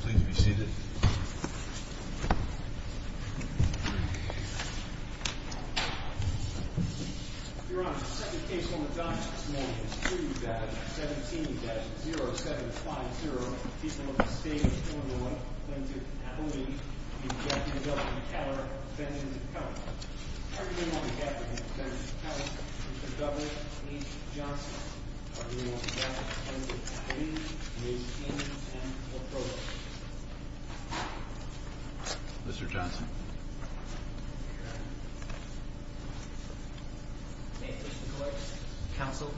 Please be seated. Your Honor, the second case on the docket this morning is 2-17-0750. The people of the state of Illinois, Clinton, Appalachia, and Jacksonville v. Keller v. Keller. Everything on the docket represents Mr. Douglas H. Johnson. Everything on the docket represents his name, his opinions, and his approach. Mr. Johnson. May it please the court, counsel.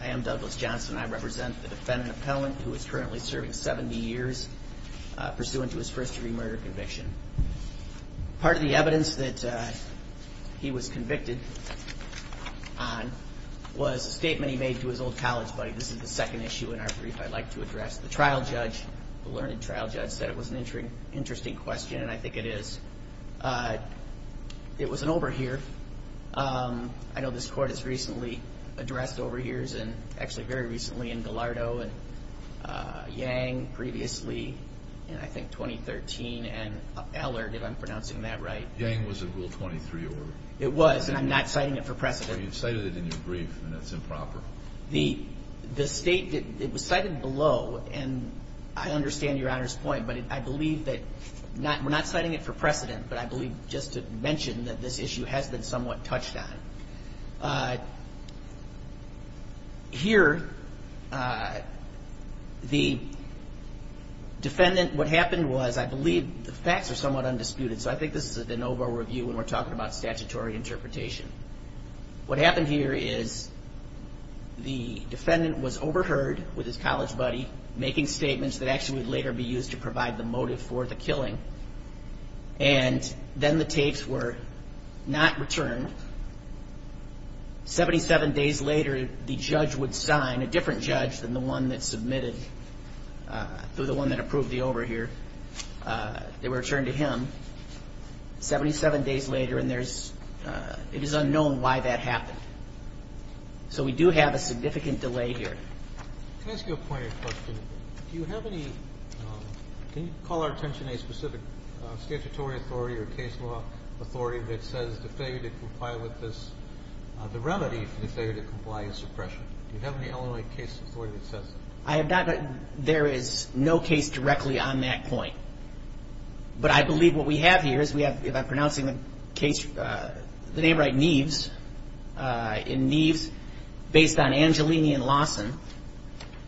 I am Douglas Johnson. I represent the defendant, Appellant, who is currently serving 70 years, pursuant to his first degree murder conviction. Part of the evidence that he was convicted on was a statement he made to his old college buddy. This is the second issue in our brief I'd like to address. The trial judge, the learned trial judge, said it was an interesting question, and I think it is. It was an overhear. I know this court has recently addressed overhears, and actually very recently, between me and Gallardo and Yang previously in, I think, 2013, and Allard, if I'm pronouncing that right. Yang was in Rule 23 order. It was, and I'm not citing it for precedent. Well, you've cited it in your brief, and that's improper. The state, it was cited below, and I understand Your Honor's point, but I believe that we're not citing it for precedent, but I believe just to mention that this issue has been somewhat touched on. Here, the defendant, what happened was, I believe the facts are somewhat undisputed, so I think this is a de novo review when we're talking about statutory interpretation. What happened here is the defendant was overheard with his college buddy, making statements that actually would later be used to provide the motive for the killing, and then the tapes were not returned. Seventy-seven days later, the judge would sign, a different judge than the one that submitted, the one that approved the overhear. They were returned to him. Seventy-seven days later, and there's, it is unknown why that happened. So we do have a significant delay here. Can I ask you a pointed question? Do you have any, can you call our attention to a specific statutory authority or case law authority that says the failure to comply with this, the remedy for the failure to comply is suppression? Do you have any Illinois case authority that says that? I have not, there is no case directly on that point, but I believe what we have here is we have, if I'm pronouncing the case, the name right, Neves. In Neves, based on Angelini and Lawson,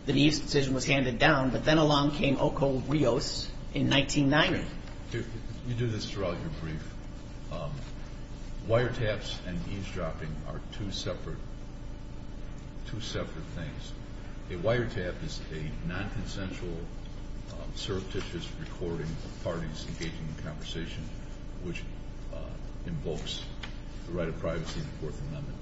the Neves decision was handed down, but then along came Ocol Rios in 1990. You do this throughout your brief. Wiretaps and eavesdropping are two separate, two separate things. A wiretap is a non-consensual, surreptitious recording of parties engaging in conversation, which invokes the right of privacy in the Fourth Amendment,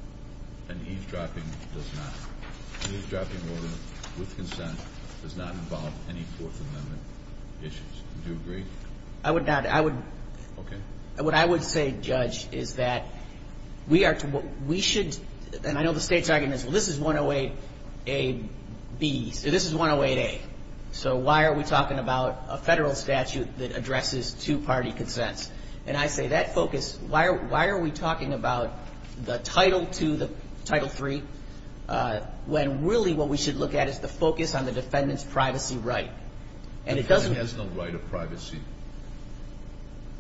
and eavesdropping does not. Eavesdropping order with consent does not involve any Fourth Amendment issues. Do you agree? I would not. Okay. What I would say, Judge, is that we are, we should, and I know the State's argument is, well, this is 108A-B, so this is 108A. So why are we talking about a Federal statute that addresses two-party consents? And I say that focus, why are we talking about the Title II, the Title III, when really what we should look at is the focus on the defendant's privacy right? The defendant has no right of privacy.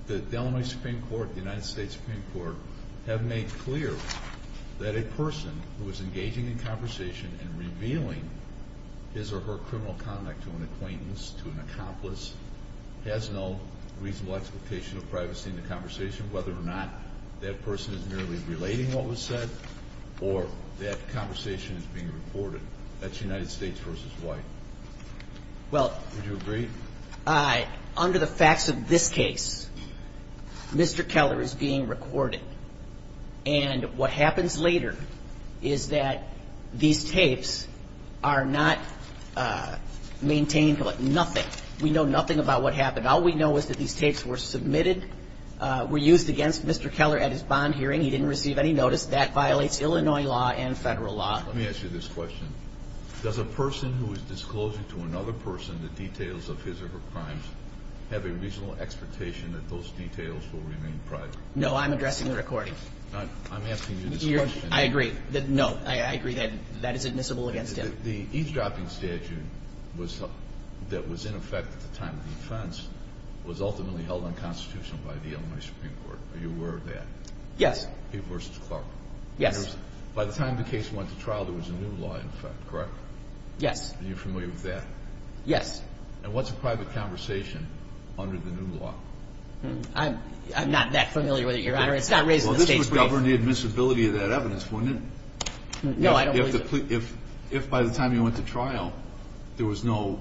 The Illinois Supreme Court, the United States Supreme Court, have made clear that a person who is engaging in conversation and revealing his or her criminal conduct to an acquaintance, to an accomplice, has no reasonable expectation of privacy in the conversation, whether or not that person is merely relating what was said or that conversation is being recorded. That's United States v. White. Would you agree? Well, under the facts of this case, Mr. Keller is being recorded. And what happens later is that these tapes are not maintained like nothing. We know nothing about what happened. All we know is that these tapes were submitted, were used against Mr. Keller at his bond hearing. He didn't receive any notice. That violates Illinois law and Federal law. Let me ask you this question. Does a person who is disclosing to another person the details of his or her crimes have a reasonable expectation that those details will remain private? No, I'm addressing the recording. I'm asking you this question. I agree. No, I agree that that is admissible against him. The eavesdropping statute that was in effect at the time of the offense was ultimately held unconstitutional by the Illinois Supreme Court. Are you aware of that? Yes. P v. Clark. Yes. By the time the case went to trial, there was a new law in effect, correct? Yes. Are you familiar with that? Yes. And what's a private conversation under the new law? I'm not that familiar with it, Your Honor. It's not raised in the state's case. Well, this would govern the admissibility of that evidence, wouldn't it? No, I don't believe so. If, by the time you went to trial, there was no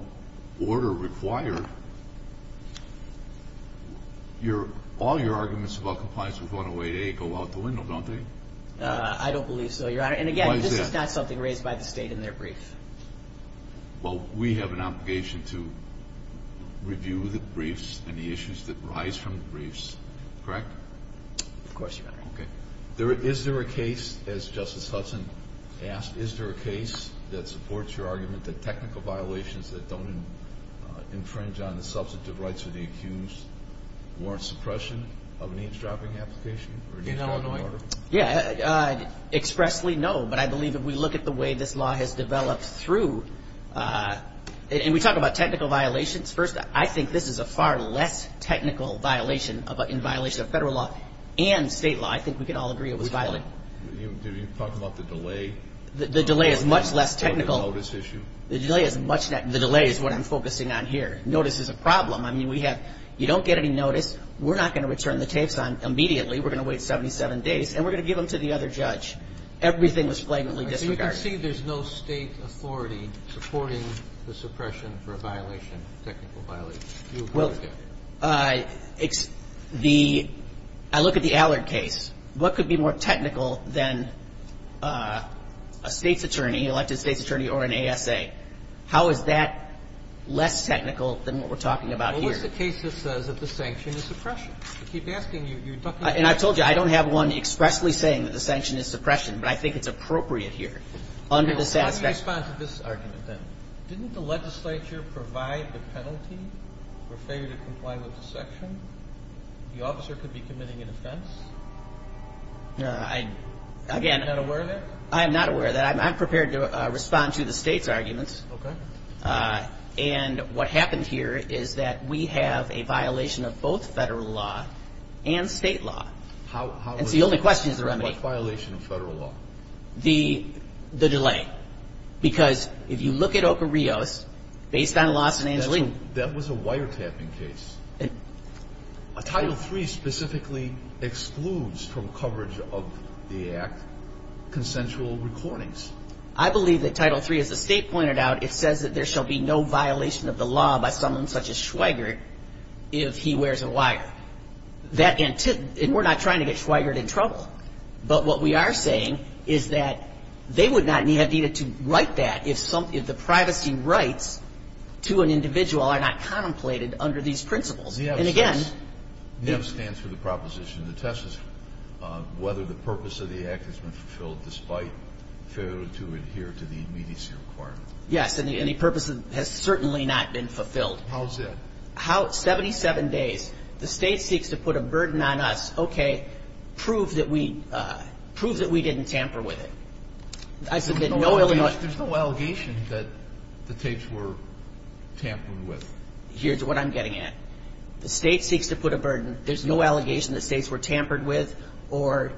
order required, all your arguments about compliance with 108A go out the window, don't they? I don't believe so, Your Honor. Why is that? And, again, this is not something raised by the state in their brief. Well, we have an obligation to review the briefs and the issues that arise from the briefs, correct? Of course, Your Honor. Okay. Is there a case, as Justice Hudson asked, is there a case that supports your argument that technical violations that don't infringe on the substantive rights of the accused warrant suppression of an age-dropping application or an age-dropping order? Expressly, no. But I believe if we look at the way this law has developed through and we talk about technical violations, first, I think this is a far less technical violation in violation of federal law and state law. I think we can all agree it was violent. Do you talk about the delay? The delay is much less technical. The delay is what I'm focusing on here. Notice is a problem. I mean, you don't get any notice. We're not going to return the tapes on immediately. We're going to wait 77 days, and we're going to give them to the other judge. Everything was flagrantly disregarded. You can see there's no state authority supporting the suppression for a violation, technical violation. Well, it's the – I look at the Allard case. What could be more technical than a state's attorney, elected state's attorney, or an ASA? How is that less technical than what we're talking about here? Well, what's the case that says that the sanction is suppression? I keep asking you. You're talking about – And I told you, I don't have one expressly saying that the sanction is suppression, but I think it's appropriate here under the satisfaction – Let me respond to this argument then. Didn't the legislature provide the penalty for failure to comply with the section? The officer could be committing an offense. No, I – Are you not aware of that? I am not aware of that. I'm prepared to respond to the state's arguments. Okay. And what happened here is that we have a violation of both federal law and state law. And so the only question is the remedy. What violation of federal law? The delay. Why? Because if you look at Ocorridos, based on Lawson and Angelino – That was a wiretapping case. Title III specifically excludes from coverage of the act consensual recordings. I believe that Title III, as the state pointed out, it says that there shall be no violation of the law by someone such as Schweigert if he wears a wire. And we're not trying to get Schweigert in trouble. But what we are saying is that they would not have needed to write that if the privacy rights to an individual are not contemplated under these principles. And, again – NEF stands for the proposition. The test is whether the purpose of the act has been fulfilled despite failure to adhere to the immediacy requirement. Yes, and the purpose has certainly not been fulfilled. How is that? How – 77 days. The state seeks to put a burden on us. Okay. Prove that we – prove that we didn't tamper with it. I submit no – There's no allegation that the tapes were tampered with. Here's what I'm getting at. The state seeks to put a burden. There's no allegation that states were tampered with or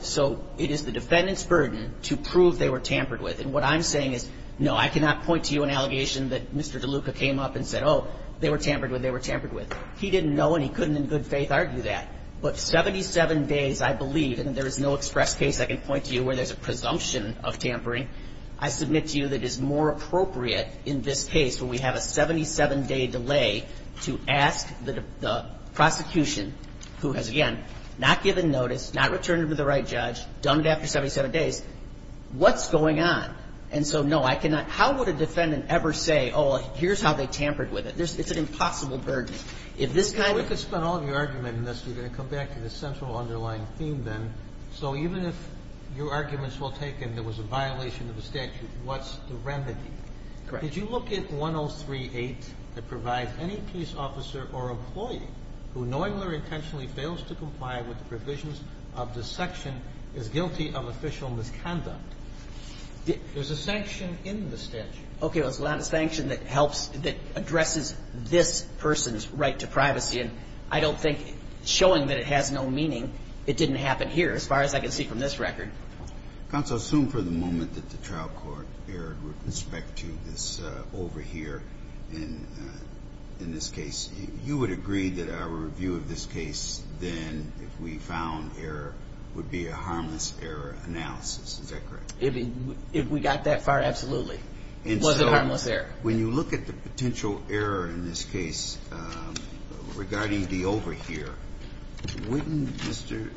– so it is the defendant's burden to prove they were tampered with. And what I'm saying is, no, I cannot point to you an allegation that Mr. DeLuca came up and said, oh, they were tampered with, they were tampered with. He didn't know and he couldn't in good faith argue that. But 77 days, I believe, and there is no express case I can point to you where there's a presumption of tampering. I submit to you that it is more appropriate in this case where we have a 77-day delay to ask the prosecution, who has, again, not given notice, not returned it to the right judge, done it after 77 days, what's going on? And so, no, I cannot – how would a defendant ever say, oh, here's how they tampered with it? It's an impossible burden. If this kind of – And I'm going to ask you a question. You're going to come back to the central underlying theme then. So even if your arguments were taken there was a violation of the statute, what's the remedy? Correct. Did you look at 103.8 that provides any police officer or employee who knowingly or intentionally fails to comply with the provisions of this section is guilty of official misconduct? There's a sanction in the statute. Okay. There's a sanction that helps – that addresses this person's right to privacy. And I don't think – showing that it has no meaning, it didn't happen here as far as I can see from this record. Counsel, assume for the moment that the trial court erred with respect to this over here in this case. You would agree that our review of this case then, if we found error, would be a harmless error analysis. Is that correct? If we got that far, absolutely. It was a harmless error. And so when you look at the potential error in this case regarding the over here, wouldn't Mr.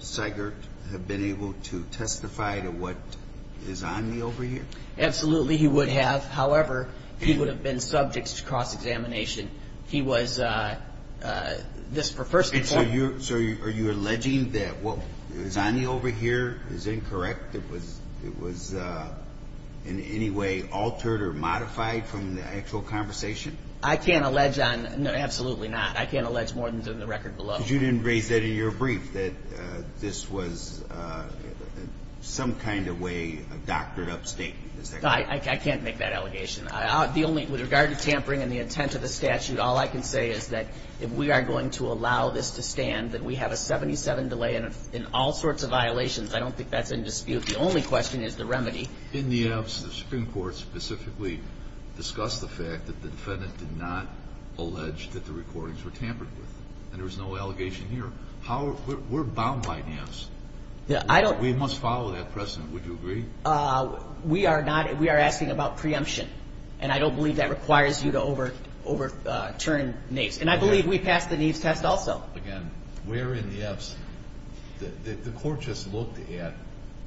Seigert have been able to testify to what is on the over here? Absolutely, he would have. However, he would have been subject to cross-examination. He was – this, for first – So are you alleging that what is on the over here is incorrect? It was in any way altered or modified from the actual conversation? I can't allege on – no, absolutely not. I can't allege more than is in the record below. But you didn't raise that in your brief, that this was some kind of way doctored up statement. Is that correct? I can't make that allegation. The only – with regard to tampering and the intent of the statute, all I can say is that if we are going to allow this to stand, that we have a 77 delay and all sorts of violations. I don't think that's in dispute. The only question is the remedy. In the absence of Supreme Court, specifically discuss the fact that the defendant did not allege that the recordings were tampered with. And there was no allegation here. How – we're bound by NAFSA. I don't – We must follow that precedent. Would you agree? We are not – we are asking about preemption. And I don't believe that requires you to overturn NAFSA. And I believe we passed the NAFSA test also. Again, we're in the absence – the court just looked at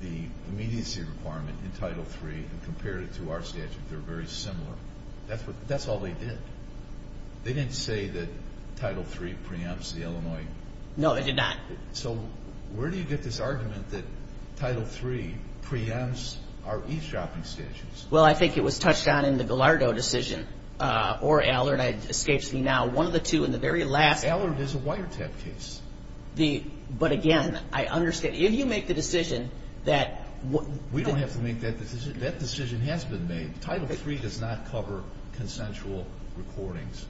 the immediacy requirement in Title III and compared it to our statute. They're very similar. That's what – that's all they did. They didn't say that Title III preempts the Illinois – No, they did not. So where do you get this argument that Title III preempts our e-shopping statutes? Well, I think it was touched on in the Gallardo decision or Allard. It escapes me now. One of the two in the very last – Allard is a wiretap case. The – but again, I understand. If you make the decision that – We don't have to make that decision. That decision has been made. Title III does not cover consensual recordings.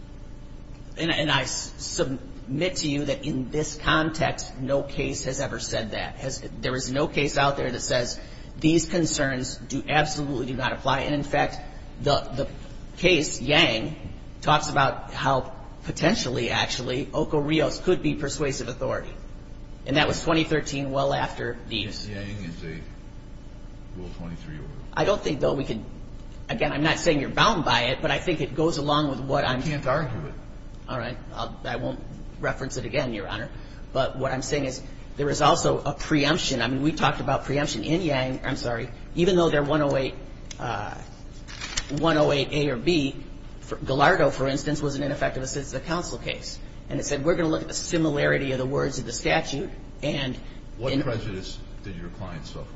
And I submit to you that in this context, no case has ever said that. There is no case out there that says these concerns absolutely do not apply. And, in fact, the case Yang talks about how potentially, actually, Oco Rios could be persuasive authority. And that was 2013, well after these. Yang is a rule 23 order. I don't think, though, we could – again, I'm not saying you're bound by it, but I think it goes along with what I'm – You can't argue it. All right. I won't reference it again, Your Honor. But what I'm saying is there is also a preemption. I mean, we talked about preemption in Yang. I'm sorry. Even though they're 108A or B, Gallardo, for instance, was an ineffective assistive counsel case. And it said we're going to look at the similarity of the words of the statute and – What prejudice did your client suffer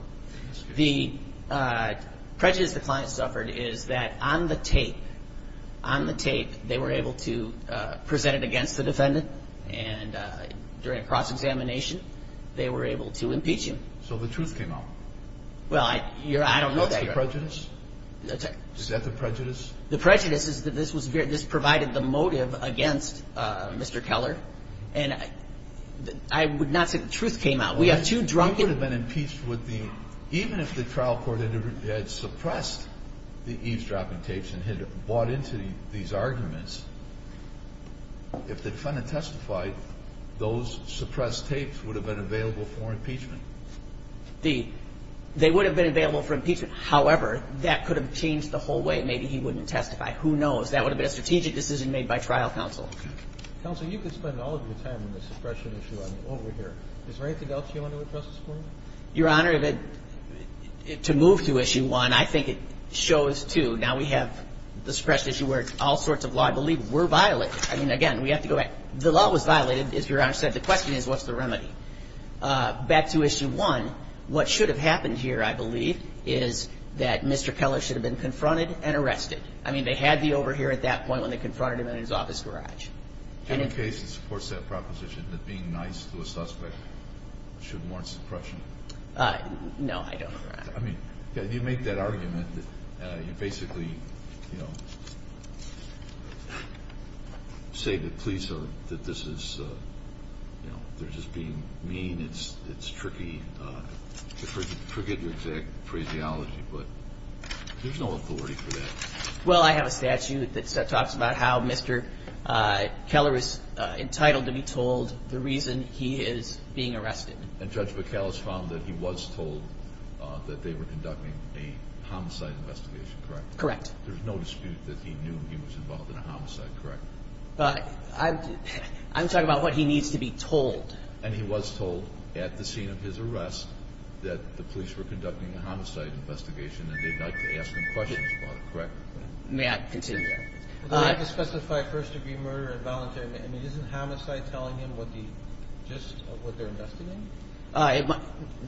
in this case? The prejudice the client suffered is that on the tape, on the tape, they were able to present it against the defendant. And during a cross-examination, they were able to impeach him. So the truth came out. Well, I don't know that, Your Honor. What's the prejudice? Is that the prejudice? The prejudice is that this provided the motive against Mr. Keller. And I would not say the truth came out. We have two drunken – He would have been impeached with the – If the defendant testified, those suppressed tapes would have been available for impeachment. They would have been available for impeachment. However, that could have changed the whole way. Maybe he wouldn't testify. Who knows? That would have been a strategic decision made by trial counsel. Counsel, you could spend all of your time on the suppression issue over here. Is there anything else you want to address this morning? Your Honor, to move to issue one, I think it shows, too, that now we have the suppression issue where all sorts of law, I believe, were violated. I mean, again, we have to go back. The law was violated, as Your Honor said. The question is, what's the remedy? Back to issue one, what should have happened here, I believe, is that Mr. Keller should have been confronted and arrested. I mean, they had the over here at that point when they confronted him in his office garage. Do you have a case that supports that proposition, No, I don't, Your Honor. I mean, you make that argument that you basically, you know, say that police are, that this is, you know, they're just being mean. It's tricky. Forget your exact phraseology, but there's no authority for that. Well, I have a statute that talks about how Mr. Keller is entitled to be told the reason he is being arrested. And Judge McAllist found that he was told that they were conducting a homicide investigation, correct? Correct. There's no dispute that he knew he was involved in a homicide, correct? I'm talking about what he needs to be told. And he was told at the scene of his arrest that the police were conducting a homicide investigation and they'd like to ask him questions about it, correct? May I continue? Well, they have to specify first-degree murder and voluntary, and isn't homicide telling him what the gist of what they're investigating?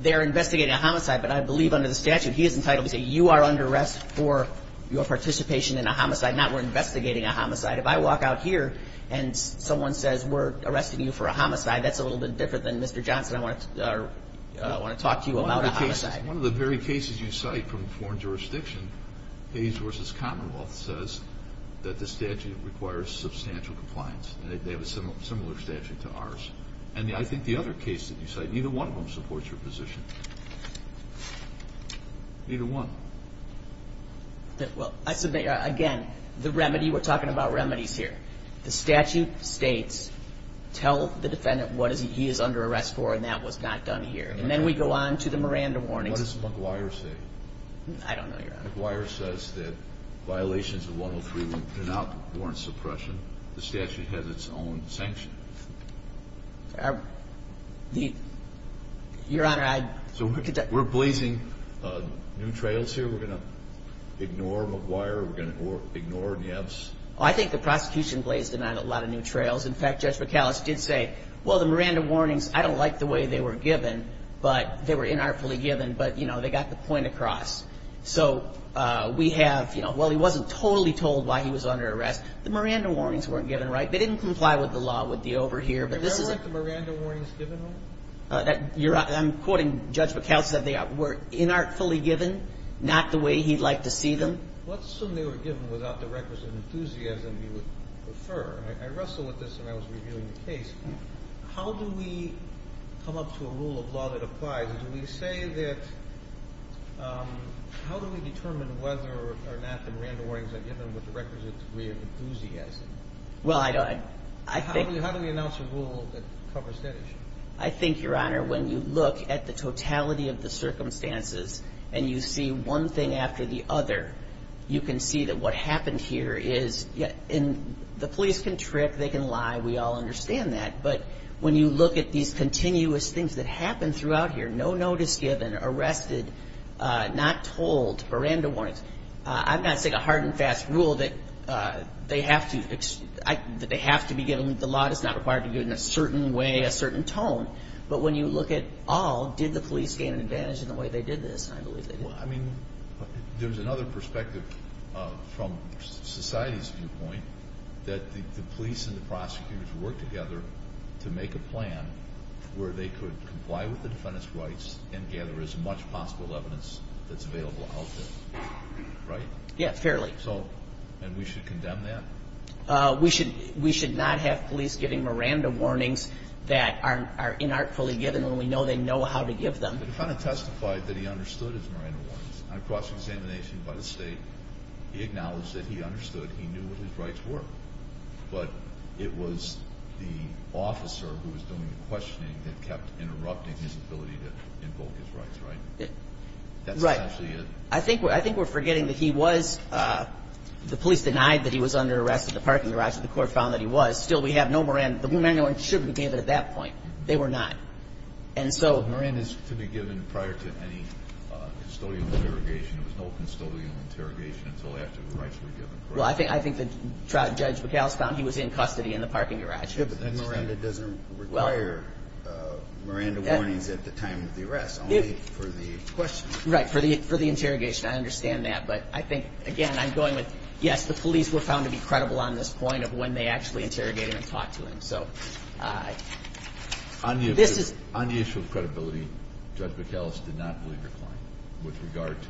They're investigating a homicide, but I believe under the statute he is entitled to say, you are under arrest for your participation in a homicide, not we're investigating a homicide. If I walk out here and someone says, we're arresting you for a homicide, that's a little bit different than, Mr. Johnson, I want to talk to you about a homicide. One of the very cases you cite from foreign jurisdiction, Hayes v. Commonwealth, says that the statute requires substantial compliance. They have a similar statute to ours. And I think the other case that you cite, neither one of them supports your position. Neither one. Again, the remedy, we're talking about remedies here. The statute states, tell the defendant what he is under arrest for, and that was not done here. And then we go on to the Miranda warnings. What does McGuire say? I don't know, Your Honor. McGuire says that violations of 103 do not warrant suppression. The statute has its own sanction. Your Honor, I... So we're blazing new trails here? We're going to ignore McGuire? We're going to ignore Nieves? I think the prosecution blazed a lot of new trails. In fact, Judge McAuliffe did say, well, the Miranda warnings, I don't like the way they were given, but they were inartfully given, but, you know, they got the point across. So we have, you know, well, he wasn't totally told why he was under arrest. The Miranda warnings weren't given right. They didn't comply with the law with the over here, but this is a... You don't like the Miranda warnings given? I'm quoting Judge McAuliffe. They were inartfully given, not the way he'd like to see them. Let's assume they were given without the requisite enthusiasm you would prefer. And I wrestled with this when I was reviewing the case. How do we come up to a rule of law that applies? And do we say that... How do we determine whether or not the Miranda warnings are given with the requisite degree of enthusiasm? Well, I don't... How do we announce a rule that covers that issue? I think, Your Honor, when you look at the totality of the circumstances and you see one thing after the other, you can see that what happened here is... And the police can trick, they can lie. We all understand that. But when you look at these continuous things that happen throughout here, no notice given, arrested, not told, Miranda warnings, I'm not saying a hard and fast rule that they have to be given. The law does not require to be given a certain way, a certain tone. But when you look at all, did the police gain an advantage in the way they did this? I believe they did. Well, I mean, there's another perspective from society's viewpoint that the police and the prosecutors worked together to make a plan where they could comply with the defendant's rights and gather as much possible evidence that's available out there. Right? Yeah, fairly. And we should condemn that? We should not have police giving Miranda warnings that are inartfully given when we know they know how to give them. The defendant testified that he understood his Miranda warnings. On a cross-examination by the state, he acknowledged that he understood. He knew what his rights were. But it was the officer who was doing the questioning that kept interrupting his ability to invoke his rights, right? That's actually it. Right. I think we're forgetting that he was, the police denied that he was under arrest at the parking garage, but the court found that he was. Still, we have no Miranda warnings. The Miranda warnings shouldn't have been given at that point. They were not. Miranda is to be given prior to any custodial interrogation. There was no custodial interrogation until after the rights were given. Well, I think that Judge McAllistown, he was in custody in the parking garage. But then Miranda doesn't require Miranda warnings at the time of the arrest, only for the questioning. Right, for the interrogation. I understand that. But I think, again, I'm going with, yes, the police were found to be credible on this point of when they actually interrogated him and talked to him. On the issue of credibility, Judge McAllist did not believe your claim with regard to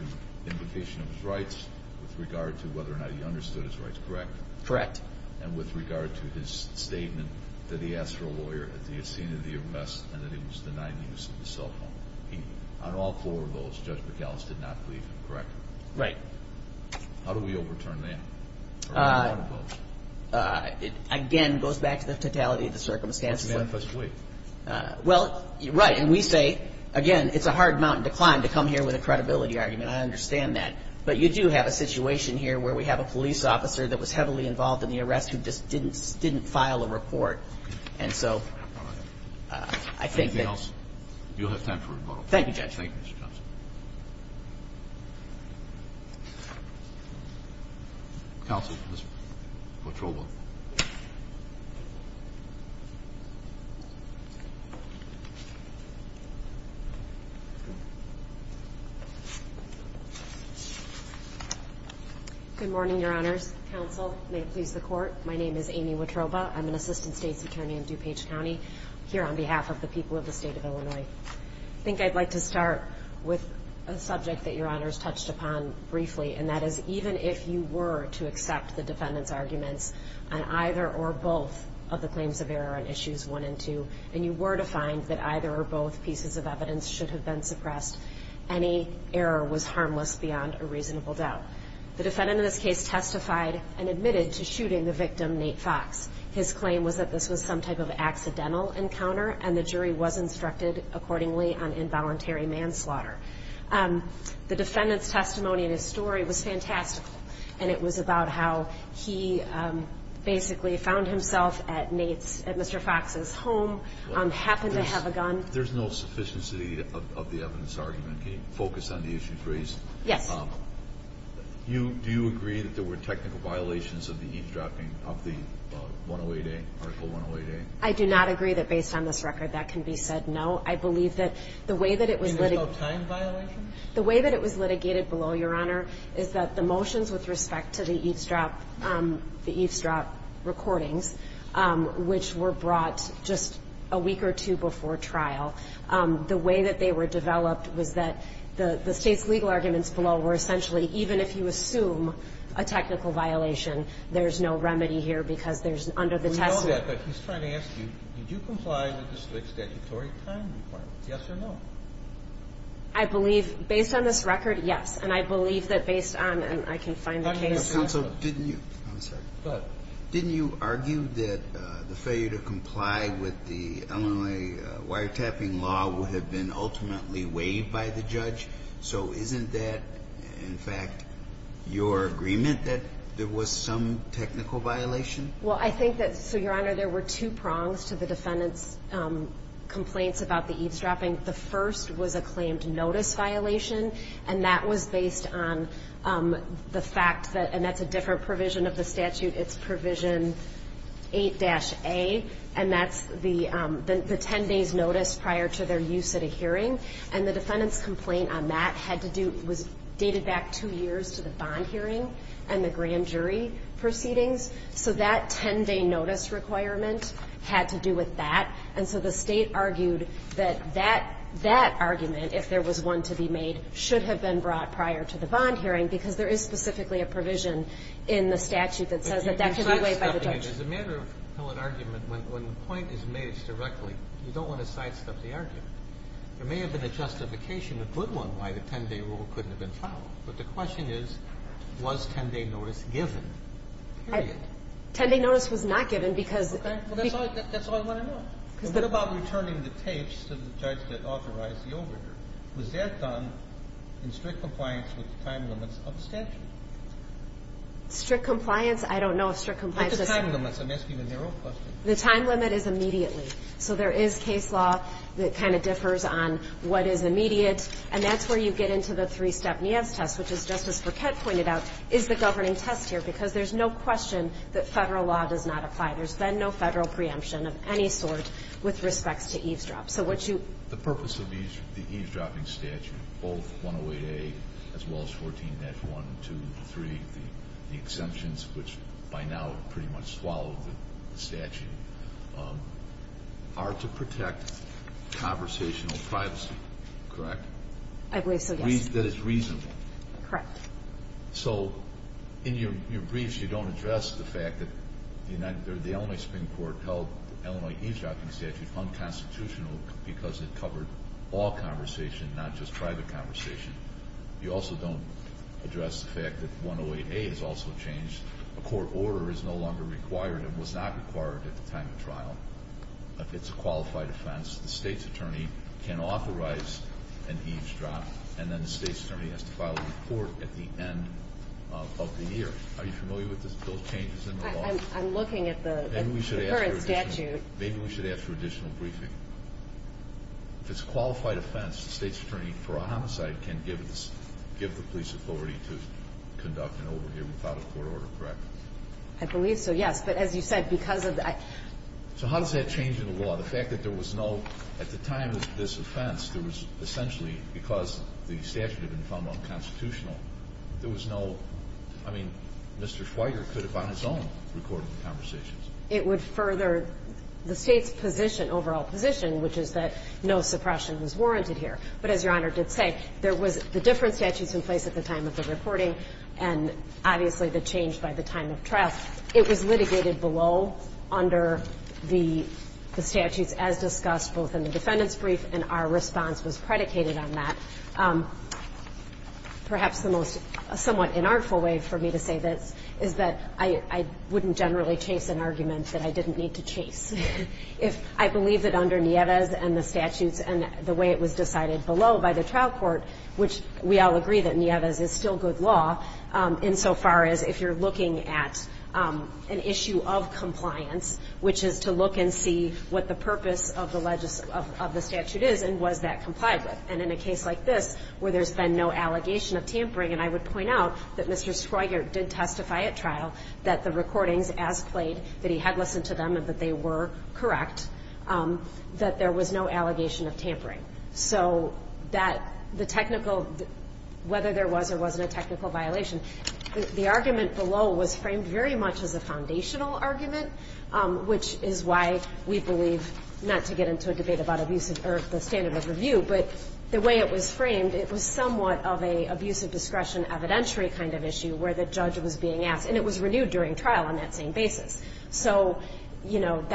implication of his rights, with regard to whether or not he understood his rights, correct? Correct. And with regard to his statement that he asked for a lawyer at the scene of the arrest and that he was denying the use of the cell phone. On all four of those, Judge McAllist did not believe him, correct? Right. How do we overturn that? It, again, goes back to the totality of the circumstances. That's manifestly. Well, right, and we say, again, it's a hard mountain to climb to come here with a credibility argument. I understand that. But you do have a situation here where we have a police officer that was heavily involved in the arrest who just didn't file a report. And so I think that. Anything else? You'll have time for a rebuttal. Thank you, Judge. Thank you, Mr. Johnson. Counsel, Ms. Wotroba. Good morning, Your Honors. Counsel, may it please the Court. My name is Amy Wotroba. I'm an assistant state's attorney in DuPage County, here on behalf of the people of the state of Illinois. I think I'd like to start with a brief introduction. This is a subject that Your Honors touched upon briefly, and that is even if you were to accept the defendant's arguments on either or both of the claims of error on Issues 1 and 2, and you were to find that either or both pieces of evidence should have been suppressed, any error was harmless beyond a reasonable doubt. The defendant in this case testified and admitted to shooting the victim, Nate Fox. His claim was that this was some type of accidental encounter, and the jury was instructed accordingly on involuntary manslaughter. The defendant's testimony and his story was fantastical, and it was about how he basically found himself at Nate's, at Mr. Fox's home, happened to have a gun. There's no sufficiency of the evidence argument. Can you focus on the issues raised? Yes. Do you agree that there were technical violations of the eavesdropping of the 108A, Article 108A? I do not agree that based on this record that can be said no. I believe that the way that it was litigated... And there's no time violation? The way that it was litigated below, Your Honor, is that the motions with respect to the eavesdrop recordings, which were brought just a week or two before trial, the way that they were developed was that the State's legal arguments below were essentially even if you assume a technical violation, there's no remedy here because there's under the testament... I know that, but he's trying to ask you, did you comply with the State's statutory time requirement? Yes or no? I believe based on this record, yes, and I believe that based on, and I can find the case... Counsel, didn't you... I'm sorry. Go ahead. Didn't you argue that the failure to comply with the Illinois wiretapping law would have been ultimately waived by the judge? So isn't that, in fact, your agreement that there was some technical violation? Well, I think that, so, Your Honor, there were two prongs to the defendant's complaints about the eavesdropping. The first was a claimed notice violation, and that was based on the fact that, and that's a different provision of the statute, it's provision 8-A, and that's the 10 days notice prior to their use at a hearing. And the defendant's complaint on that had to do, was dated back two years to the bond hearing and the grand jury proceedings. So that 10-day notice requirement had to do with that. And so the State argued that that argument, if there was one to be made, should have been brought prior to the bond hearing because there is specifically a provision in the statute that says that that could be waived by the judge. But you're sidestepping it. As a matter of pellet argument, when the point is made directly, you don't want to sidestep the argument. There may have been a justification, a good one, why the 10-day rule couldn't have been followed. But the question is, was 10-day notice given? Period. 10-day notice was not given because... Okay. Well, that's all I want to know. What about returning the tapes to the judge that authorized the overdue? Was that done in strict compliance with the time limits of the statute? Strict compliance? I don't know if strict compliance is... What's the time limit? I'm asking a narrow question. The time limit is immediately. So there is case law that kind of differs on what is immediate, and that's where you get into the three-step NIAS test, which is, just as Burkett pointed out, is the governing test here, because there's no question that Federal law does not apply. There's been no Federal preemption of any sort with respects to eavesdrop. So would you... The purpose of the eavesdropping statute, both 108A as well as 14-1, 2, 3, the exemptions, which by now pretty much swallow the statute, are to protect conversational privacy, correct? I believe so, yes. That it's reasonable. Correct. So in your briefs you don't address the fact that the Illinois Supreme Court held the Illinois eavesdropping statute unconstitutional because it covered all conversation, not just private conversation. You also don't address the fact that 108A is also changed. A court order is no longer required and was not required at the time of trial. If it's a qualified offense, the State's attorney can authorize an eavesdrop and then the State's attorney has to file a report at the end of the year. Are you familiar with those changes in the law? I'm looking at the current statute. Maybe we should ask for additional briefing. If it's a qualified offense, the State's attorney, for a homicide, can give the police authority to conduct an overhear without a court order, correct? I believe so, yes. But as you said, because of that. So how does that change in the law? The fact that there was no, at the time of this offense, there was essentially because the statute had been found unconstitutional, there was no, I mean, Mr. Schweiger could have on his own recorded the conversations. It would further the State's position, overall position, which is that no suppression was warranted here. But as Your Honor did say, there was the different statutes in place at the time of the recording and obviously the change by the time of trial. It was litigated below under the statutes as discussed both in the defendant's brief and our response was predicated on that. Perhaps the most somewhat inartful way for me to say this is that I wouldn't generally chase an argument that I didn't need to chase. If I believe that under Nieves and the statutes and the way it was decided below by the trial court, which we all agree that Nieves is still good law, insofar as if you're looking at an issue of compliance, which is to look and see what the purpose of the statute is and was that complied with. And in a case like this where there's been no allegation of tampering, and I would point out that Mr. Schweiger did testify at trial that the recordings as played, that he had listened to them and that they were correct, that there was no allegation of tampering. So that the technical, whether there was or wasn't a technical violation, the argument below was framed very much as a foundational argument, which is why we believe not to get into a debate about abuse or the standard of review, but the way it was framed, it was somewhat of an abuse of discretion evidentiary kind of issue where the judge was being asked. And it was renewed during trial on that same basis. But the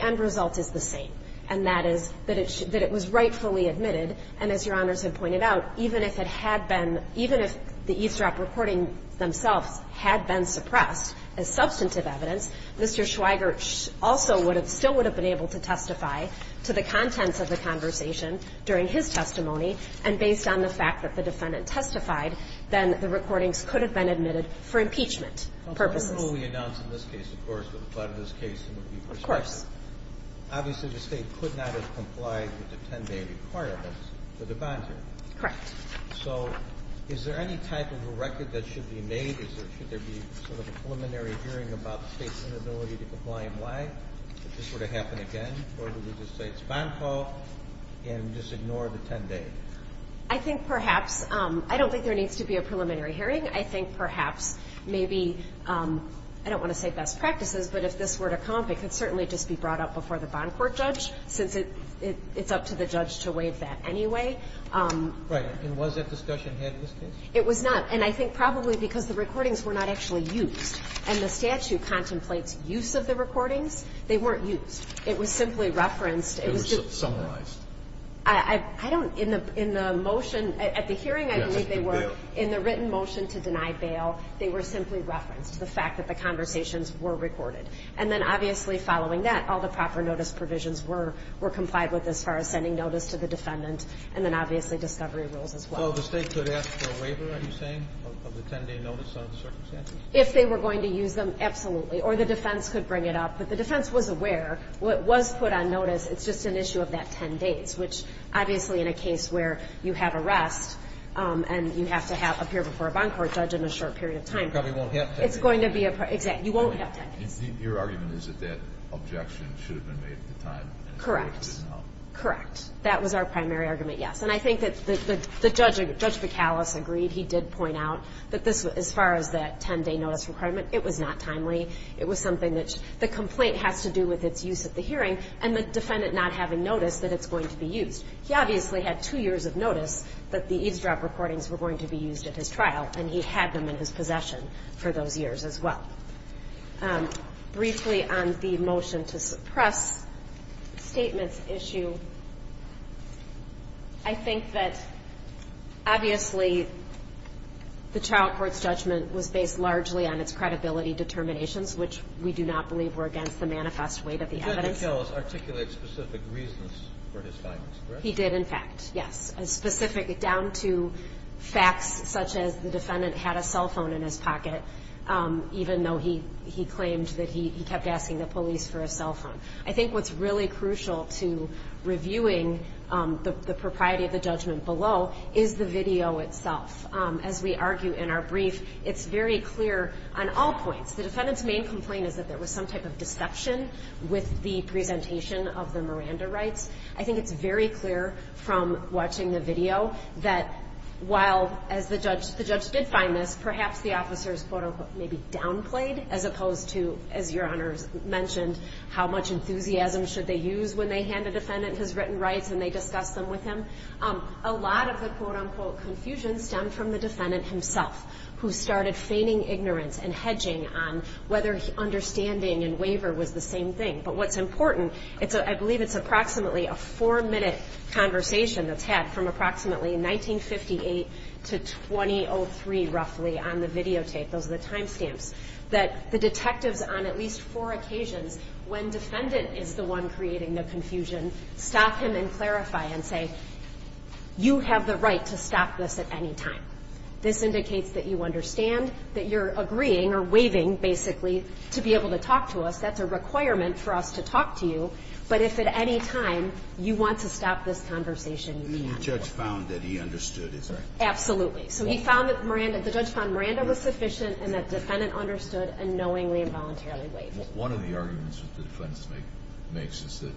end result is the same. And that is that it was rightfully admitted. And as Your Honors have pointed out, even if it had been, even if the e-strap recording themselves had been suppressed as substantive evidence, Mr. Schweiger also would have, still would have been able to testify to the contents of the conversation during his testimony. And based on the fact that the defendant testified, then the recordings could have been admitted for impeachment purposes. The rule we announced in this case, of course, would apply to this case and would be prospective. Of course. Obviously the State could not have complied with the 10-day requirements for the bond hearing. Correct. So is there any type of a record that should be made? Should there be sort of a preliminary hearing about the State's inability to comply and why? If this were to happen again, or would we just say it's a bond call and just ignore the 10-day? I think perhaps. I don't think there needs to be a preliminary hearing. I think perhaps maybe, I don't want to say best practices, but if this were to come up, it could certainly just be brought up before the bond court judge, since it's up to the judge to waive that anyway. Right. And was that discussion had in this case? It was not. And I think probably because the recordings were not actually used, and the statute contemplates use of the recordings, they weren't used. It was simply referenced. I don't, in the motion, at the hearing I believe they were. Yes. They were not used to deny bail. They were simply referenced. The fact that the conversations were recorded. And then obviously following that, all the proper notice provisions were complied with as far as sending notice to the defendant, and then obviously discovery rules as well. So the State could ask for a waiver, are you saying, of the 10-day notice on the circumstances? If they were going to use them, absolutely. Or the defense could bring it up. But the defense was aware. What was put on notice, it's just an issue of that 10 days, which obviously in a case where you have arrest and you have to appear before a bond court judge in a short period of time. You probably won't have 10 days. Exactly. You won't have 10 days. Your argument is that that objection should have been made at the time. Correct. Correct. That was our primary argument, yes. And I think that the judge, Judge McAllis, agreed. He did point out that this, as far as that 10-day notice requirement, it was not timely. It was something that the complaint has to do with its use at the hearing and the defendant not having notice that it's going to be used. He obviously had two years of notice that the eavesdrop recordings were going to be used at his trial, and he had them in his possession for those years as well. Briefly on the motion to suppress statements issue, I think that obviously the trial court's judgment was based largely on its credibility determinations, which we do not believe were against the manifest weight of the evidence. Judge McAllis articulated specific reasons for his findings, correct? He did, in fact, yes. Specific down to facts such as the defendant had a cell phone in his pocket, even though he claimed that he kept asking the police for his cell phone. I think what's really crucial to reviewing the propriety of the judgment below is the video itself. As we argue in our brief, it's very clear on all points. The defendant's main complaint is that there was some type of deception with the presentation of the Miranda rights. I think it's very clear from watching the video that while, as the judge did find this, perhaps the officers, quote-unquote, maybe downplayed, as opposed to, as Your Honor mentioned, how much enthusiasm should they use when they hand a defendant his written rights and they discuss them with him. A lot of the, quote-unquote, confusion stemmed from the defendant himself, who started feigning ignorance and hedging on whether understanding and waiver was the same thing. But what's important, I believe it's approximately a four-minute conversation that's had from approximately 1958 to 2003, roughly, on the videotape. Those are the time stamps. That the detectives on at least four occasions, when defendant is the one creating the confusion, stop him and clarify and say, you have the right to stop this at any time. This indicates that you understand, that you're agreeing or waiving, basically, to be able to talk to us. That's a requirement for us to talk to you. But if at any time you want to stop this conversation, you can. The judge found that he understood, is that right? Absolutely. So he found that Miranda, the judge found Miranda was sufficient and that defendant understood and knowingly and voluntarily waived it. One of the arguments that the defense makes is that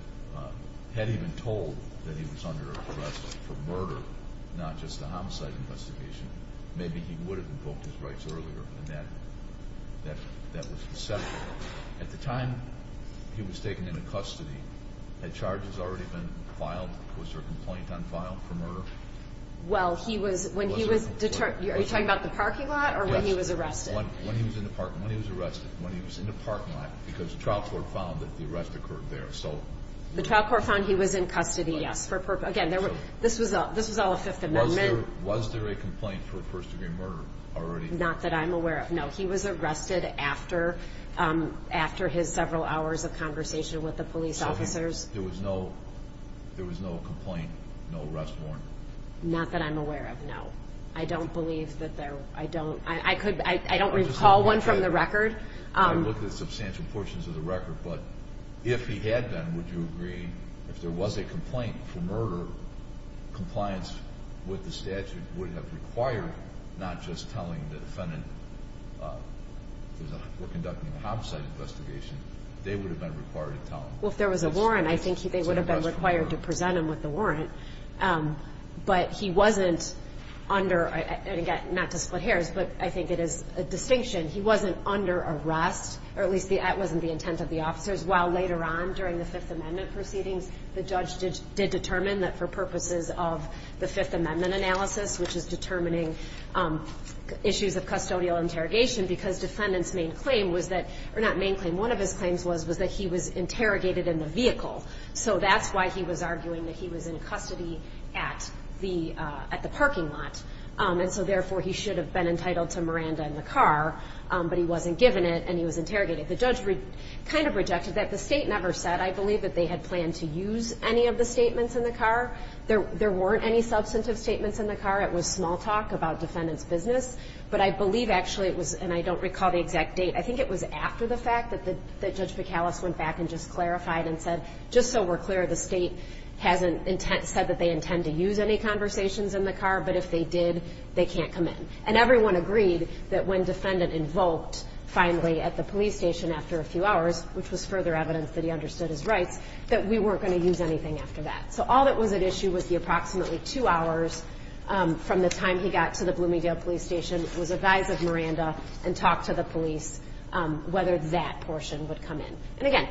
had he been told that he was under arrest for murder, not just a homicide investigation, maybe he would have invoked his rights earlier and that was acceptable. At the time he was taken into custody, had charges already been filed? Was there a complaint on file for murder? Well, he was, when he was, are you talking about the parking lot or when he was arrested? When he was arrested, when he was in the parking lot, because the trial court found that the arrest occurred there. The trial court found he was in custody, yes. Again, this was all a Fifth Amendment. Was there a complaint for first-degree murder already? Not that I'm aware of, no. He was arrested after his several hours of conversation with the police officers. So there was no complaint, no arrest warrant? Not that I'm aware of, no. I don't believe that there was. I don't recall one from the record. I looked at substantial portions of the record, but if he had been, would you agree, if there was a complaint for murder, compliance with the statute would have required, not just telling the defendant we're conducting a homicide investigation, they would have been required to tell him. Well, if there was a warrant, I think they would have been required to present him with the warrant. But he wasn't under, and again, not to split hairs, but I think it is a distinction, he wasn't under arrest, or at least that wasn't the intent of the officers. While later on during the Fifth Amendment proceedings, the judge did determine that for purposes of the Fifth Amendment analysis, which is determining issues of custodial interrogation, because defendant's main claim was that, or not main claim, one of his claims was that he was interrogated in the vehicle. So that's why he was arguing that he was in custody at the parking lot, and so therefore he should have been entitled to Miranda and the car, but he wasn't given it and he was interrogated. The judge kind of rejected that. The State never said, I believe, that they had planned to use any of the statements in the car. There weren't any substantive statements in the car. It was small talk about defendant's business. But I believe actually it was, and I don't recall the exact date, I think it was after the fact that Judge McAuliffe went back and just clarified and said, just so we're clear, the State hasn't said that they intend to use any conversations in the car, but if they did, they can't come in. And everyone agreed that when defendant invoked finally at the police station after a few hours, which was further evidence that he understood his rights, that we weren't going to use anything after that. So all that was at issue was the approximately two hours from the time he got to the Bloomingdale Police Station was a guise of Miranda and talked to the police whether that portion would come in. And again,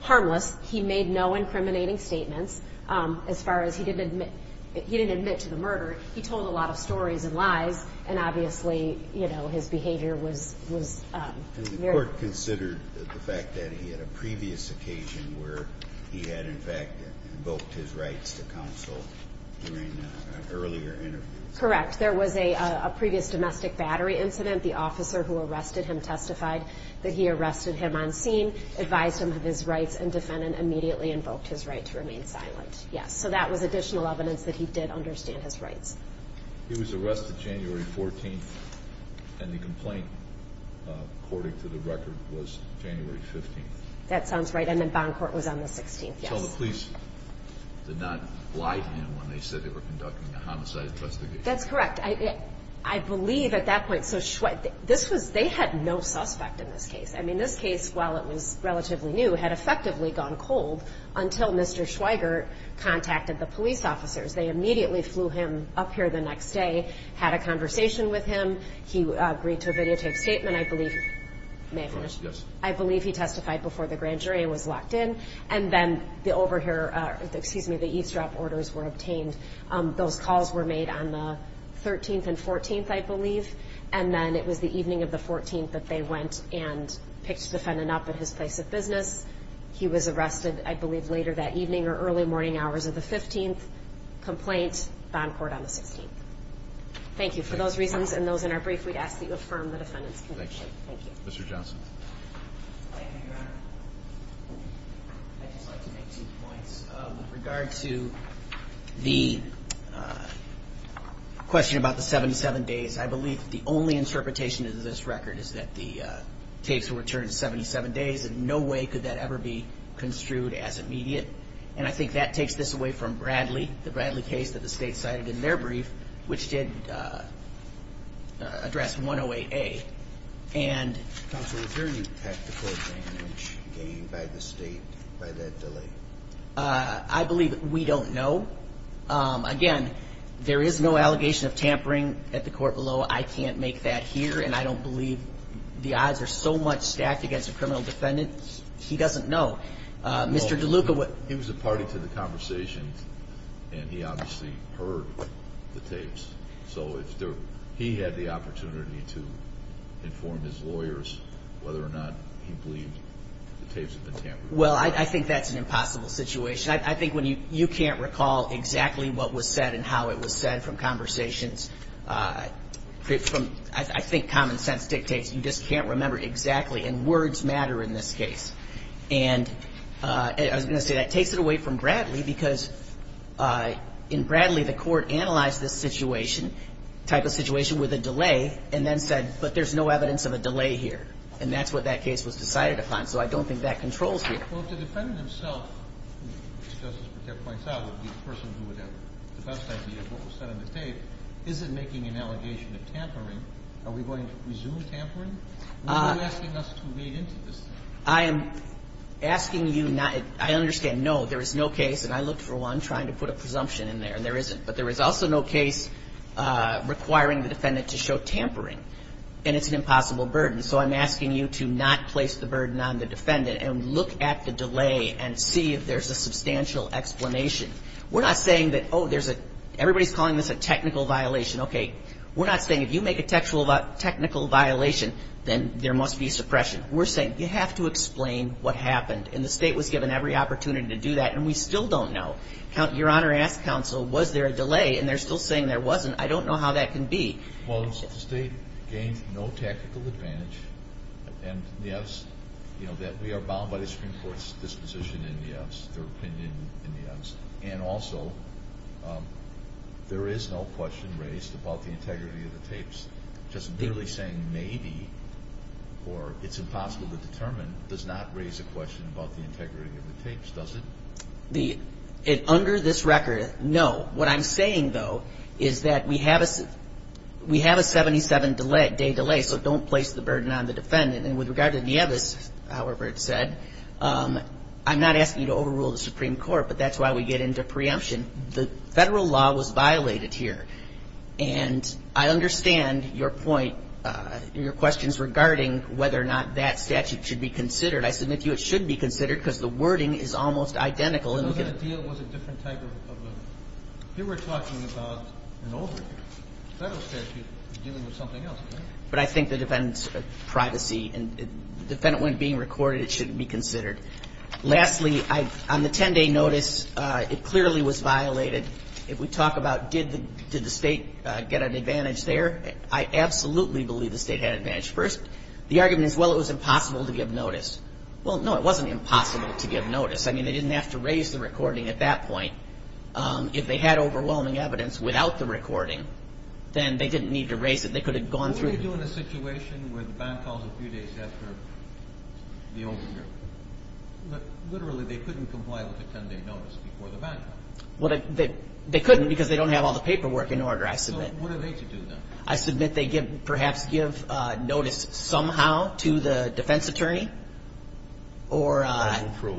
harmless. He made no incriminating statements as far as he didn't admit to the murder. He told a lot of stories and lies, and obviously, you know, his behavior was very... And the court considered the fact that he had a previous occasion where he had in fact invoked his rights to counsel during an earlier interview. Correct. There was a previous domestic battery incident. The officer who arrested him testified that he arrested him on scene, advised him of his rights, and defendant immediately invoked his right to remain silent, yes. So that was additional evidence that he did understand his rights. He was arrested January 14th, and the complaint, according to the record, was January 15th. That sounds right, and the bond court was on the 16th, yes. So the police did not lie to him when they said they were conducting a homicide investigation. That's correct. I believe at that point... So this was... They had no suspect in this case. I mean, this case, while it was relatively new, had effectively gone cold until Mr. Schweiger contacted the police officers. They immediately flew him up here the next day, had a conversation with him. He agreed to a videotape statement, I believe. May I finish? Yes. I believe he testified before the grand jury and was locked in, and then the eavesdrop orders were obtained. Those calls were made on the 13th and 14th, I believe, and then it was the evening of the 14th that they went and picked the defendant up at his place of business. He was arrested, I believe, later that evening or early morning hours of the 15th. Complaint, bond court on the 16th. Thank you. For those reasons and those in our brief, we'd ask that you affirm the defendant's conviction. Thank you. Mr. Johnson. Thank you, Your Honor. I'd just like to make two points. With regard to the question about the 77 days, I believe that the only interpretation of this record is that the tapes were returned 77 days, and no way could that ever be construed as immediate. And I think that takes this away from Bradley, the Bradley case that the state cited in their brief, which did address 108A. Counsel, is there any tactical advantage gained by the state by that delay? I believe we don't know. Again, there is no allegation of tampering at the court below. I can't make that here, and I don't believe the odds are so much stacked against a criminal defendant. He doesn't know. Mr. DeLuca. He was a party to the conversations, and he obviously heard the tapes. So he had the opportunity to inform his lawyers whether or not he believed the tapes had been tampered with. Well, I think that's an impossible situation. I think when you can't recall exactly what was said and how it was said from conversations, I think common sense dictates you just can't remember exactly, and words matter in this case. And I was going to say that takes it away from Bradley, because in Bradley, the Court analyzed this situation, type of situation, with a delay, and then said, but there's no evidence of a delay here. And that's what that case was decided upon. So I don't think that controls here. Well, if the defendant himself, as Justice Brekett points out, would be the person who would have the best idea of what was said in the tape, is it making an allegation of tampering? Are we going to resume tampering? Or are you asking us to read into this thing? I am asking you not to. I understand, no. There is no case, and I looked for one trying to put a presumption in there, and there isn't. But there is also no case requiring the defendant to show tampering, and it's an impossible burden. So I'm asking you to not place the burden on the defendant and look at the delay and see if there's a substantial explanation. We're not saying that, oh, there's a – everybody's calling this a technical violation. Okay. We're not saying if you make a technical violation, then there must be suppression. We're saying you have to explain what happened. And the state was given every opportunity to do that, and we still don't know. Your Honor, ask counsel, was there a delay? And they're still saying there wasn't. I don't know how that can be. Well, the state gained no tactical advantage, and, yes, that we are bound by the Supreme Court's disposition and, yes, their opinion and, yes. And also, there is no question raised about the integrity of the tapes. Just merely saying maybe or it's impossible to determine does not raise a question about the integrity of the tapes, does it? Under this record, no. What I'm saying, though, is that we have a 77-day delay, so don't place the burden on the defendant. And with regard to Nieves, however it's said, I'm not asking you to overrule the Supreme Court, but that's why we get into preemption. The federal law was violated here. And I understand your point, your questions regarding whether or not that statute should be considered. I submit to you it should be considered because the wording is almost identical. It was a different type of a deal. You were talking about an older federal statute dealing with something else, correct? But I think the defendant's privacy and the defendant, when being recorded, it shouldn't be considered. Lastly, on the 10-day notice, it clearly was violated. If we talk about did the state get an advantage there, I absolutely believe the state had an advantage. First, the argument is, well, it was impossible to give notice. Well, no, it wasn't impossible to give notice. I mean, they didn't have to raise the recording at that point. If they had overwhelming evidence without the recording, then they didn't need to raise it. They could have gone through. What would you do in a situation where the bond calls a few days after the overrule? Literally, they couldn't comply with the 10-day notice before the bond call. They couldn't because they don't have all the paperwork in order, I submit. So what do they do then? I submit they perhaps give notice somehow to the defense attorney. Or ask for a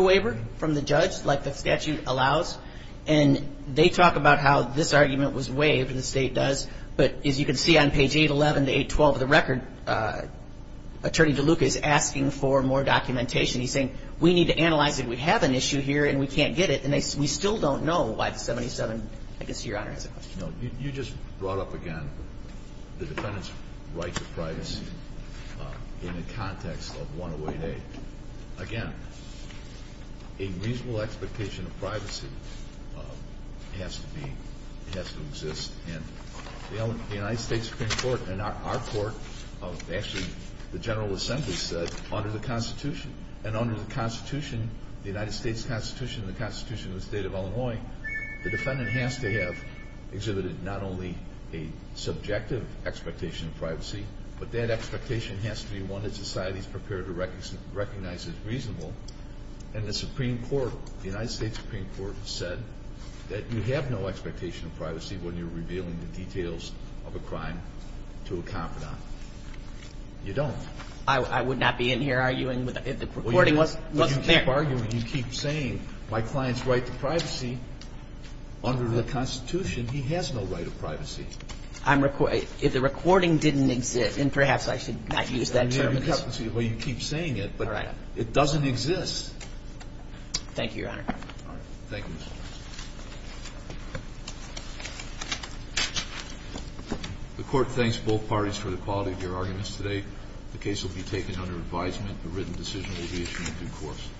waiver from the judge, like the statute allows. And they talk about how this argument was waived, and the state does. But as you can see on page 811 to 812 of the record, Attorney DeLuca is asking for more documentation. He's saying, we need to analyze it. We have an issue here, and we can't get it. And we still don't know why the 77, I guess, Your Honor, has a question. No. You just brought up again the defendant's right to privacy in the context of 108A. Again, a reasonable expectation of privacy has to be, has to exist. And the United States Supreme Court and our court, actually the General Assembly, said under the Constitution, and under the Constitution, the United States Constitution and the Constitution of the state of Illinois, the defendant has to have exhibited not only a subjective expectation of privacy, but that expectation has to be one that society is prepared to recognize as reasonable. And the Supreme Court, the United States Supreme Court, said that you have no expectation of privacy when you're revealing the details of a crime to a confidant. You don't. I would not be in here arguing if the recording wasn't there. But you keep arguing. You keep saying, my client's right to privacy. Under the Constitution, he has no right to privacy. If the recording didn't exist, and perhaps I should not use that term. Well, you keep saying it, but it doesn't exist. Thank you, Your Honor. Thank you. The Court thanks both parties for the quality of your arguments today. The case will be taken under advisement. A written decision will be issued in due course.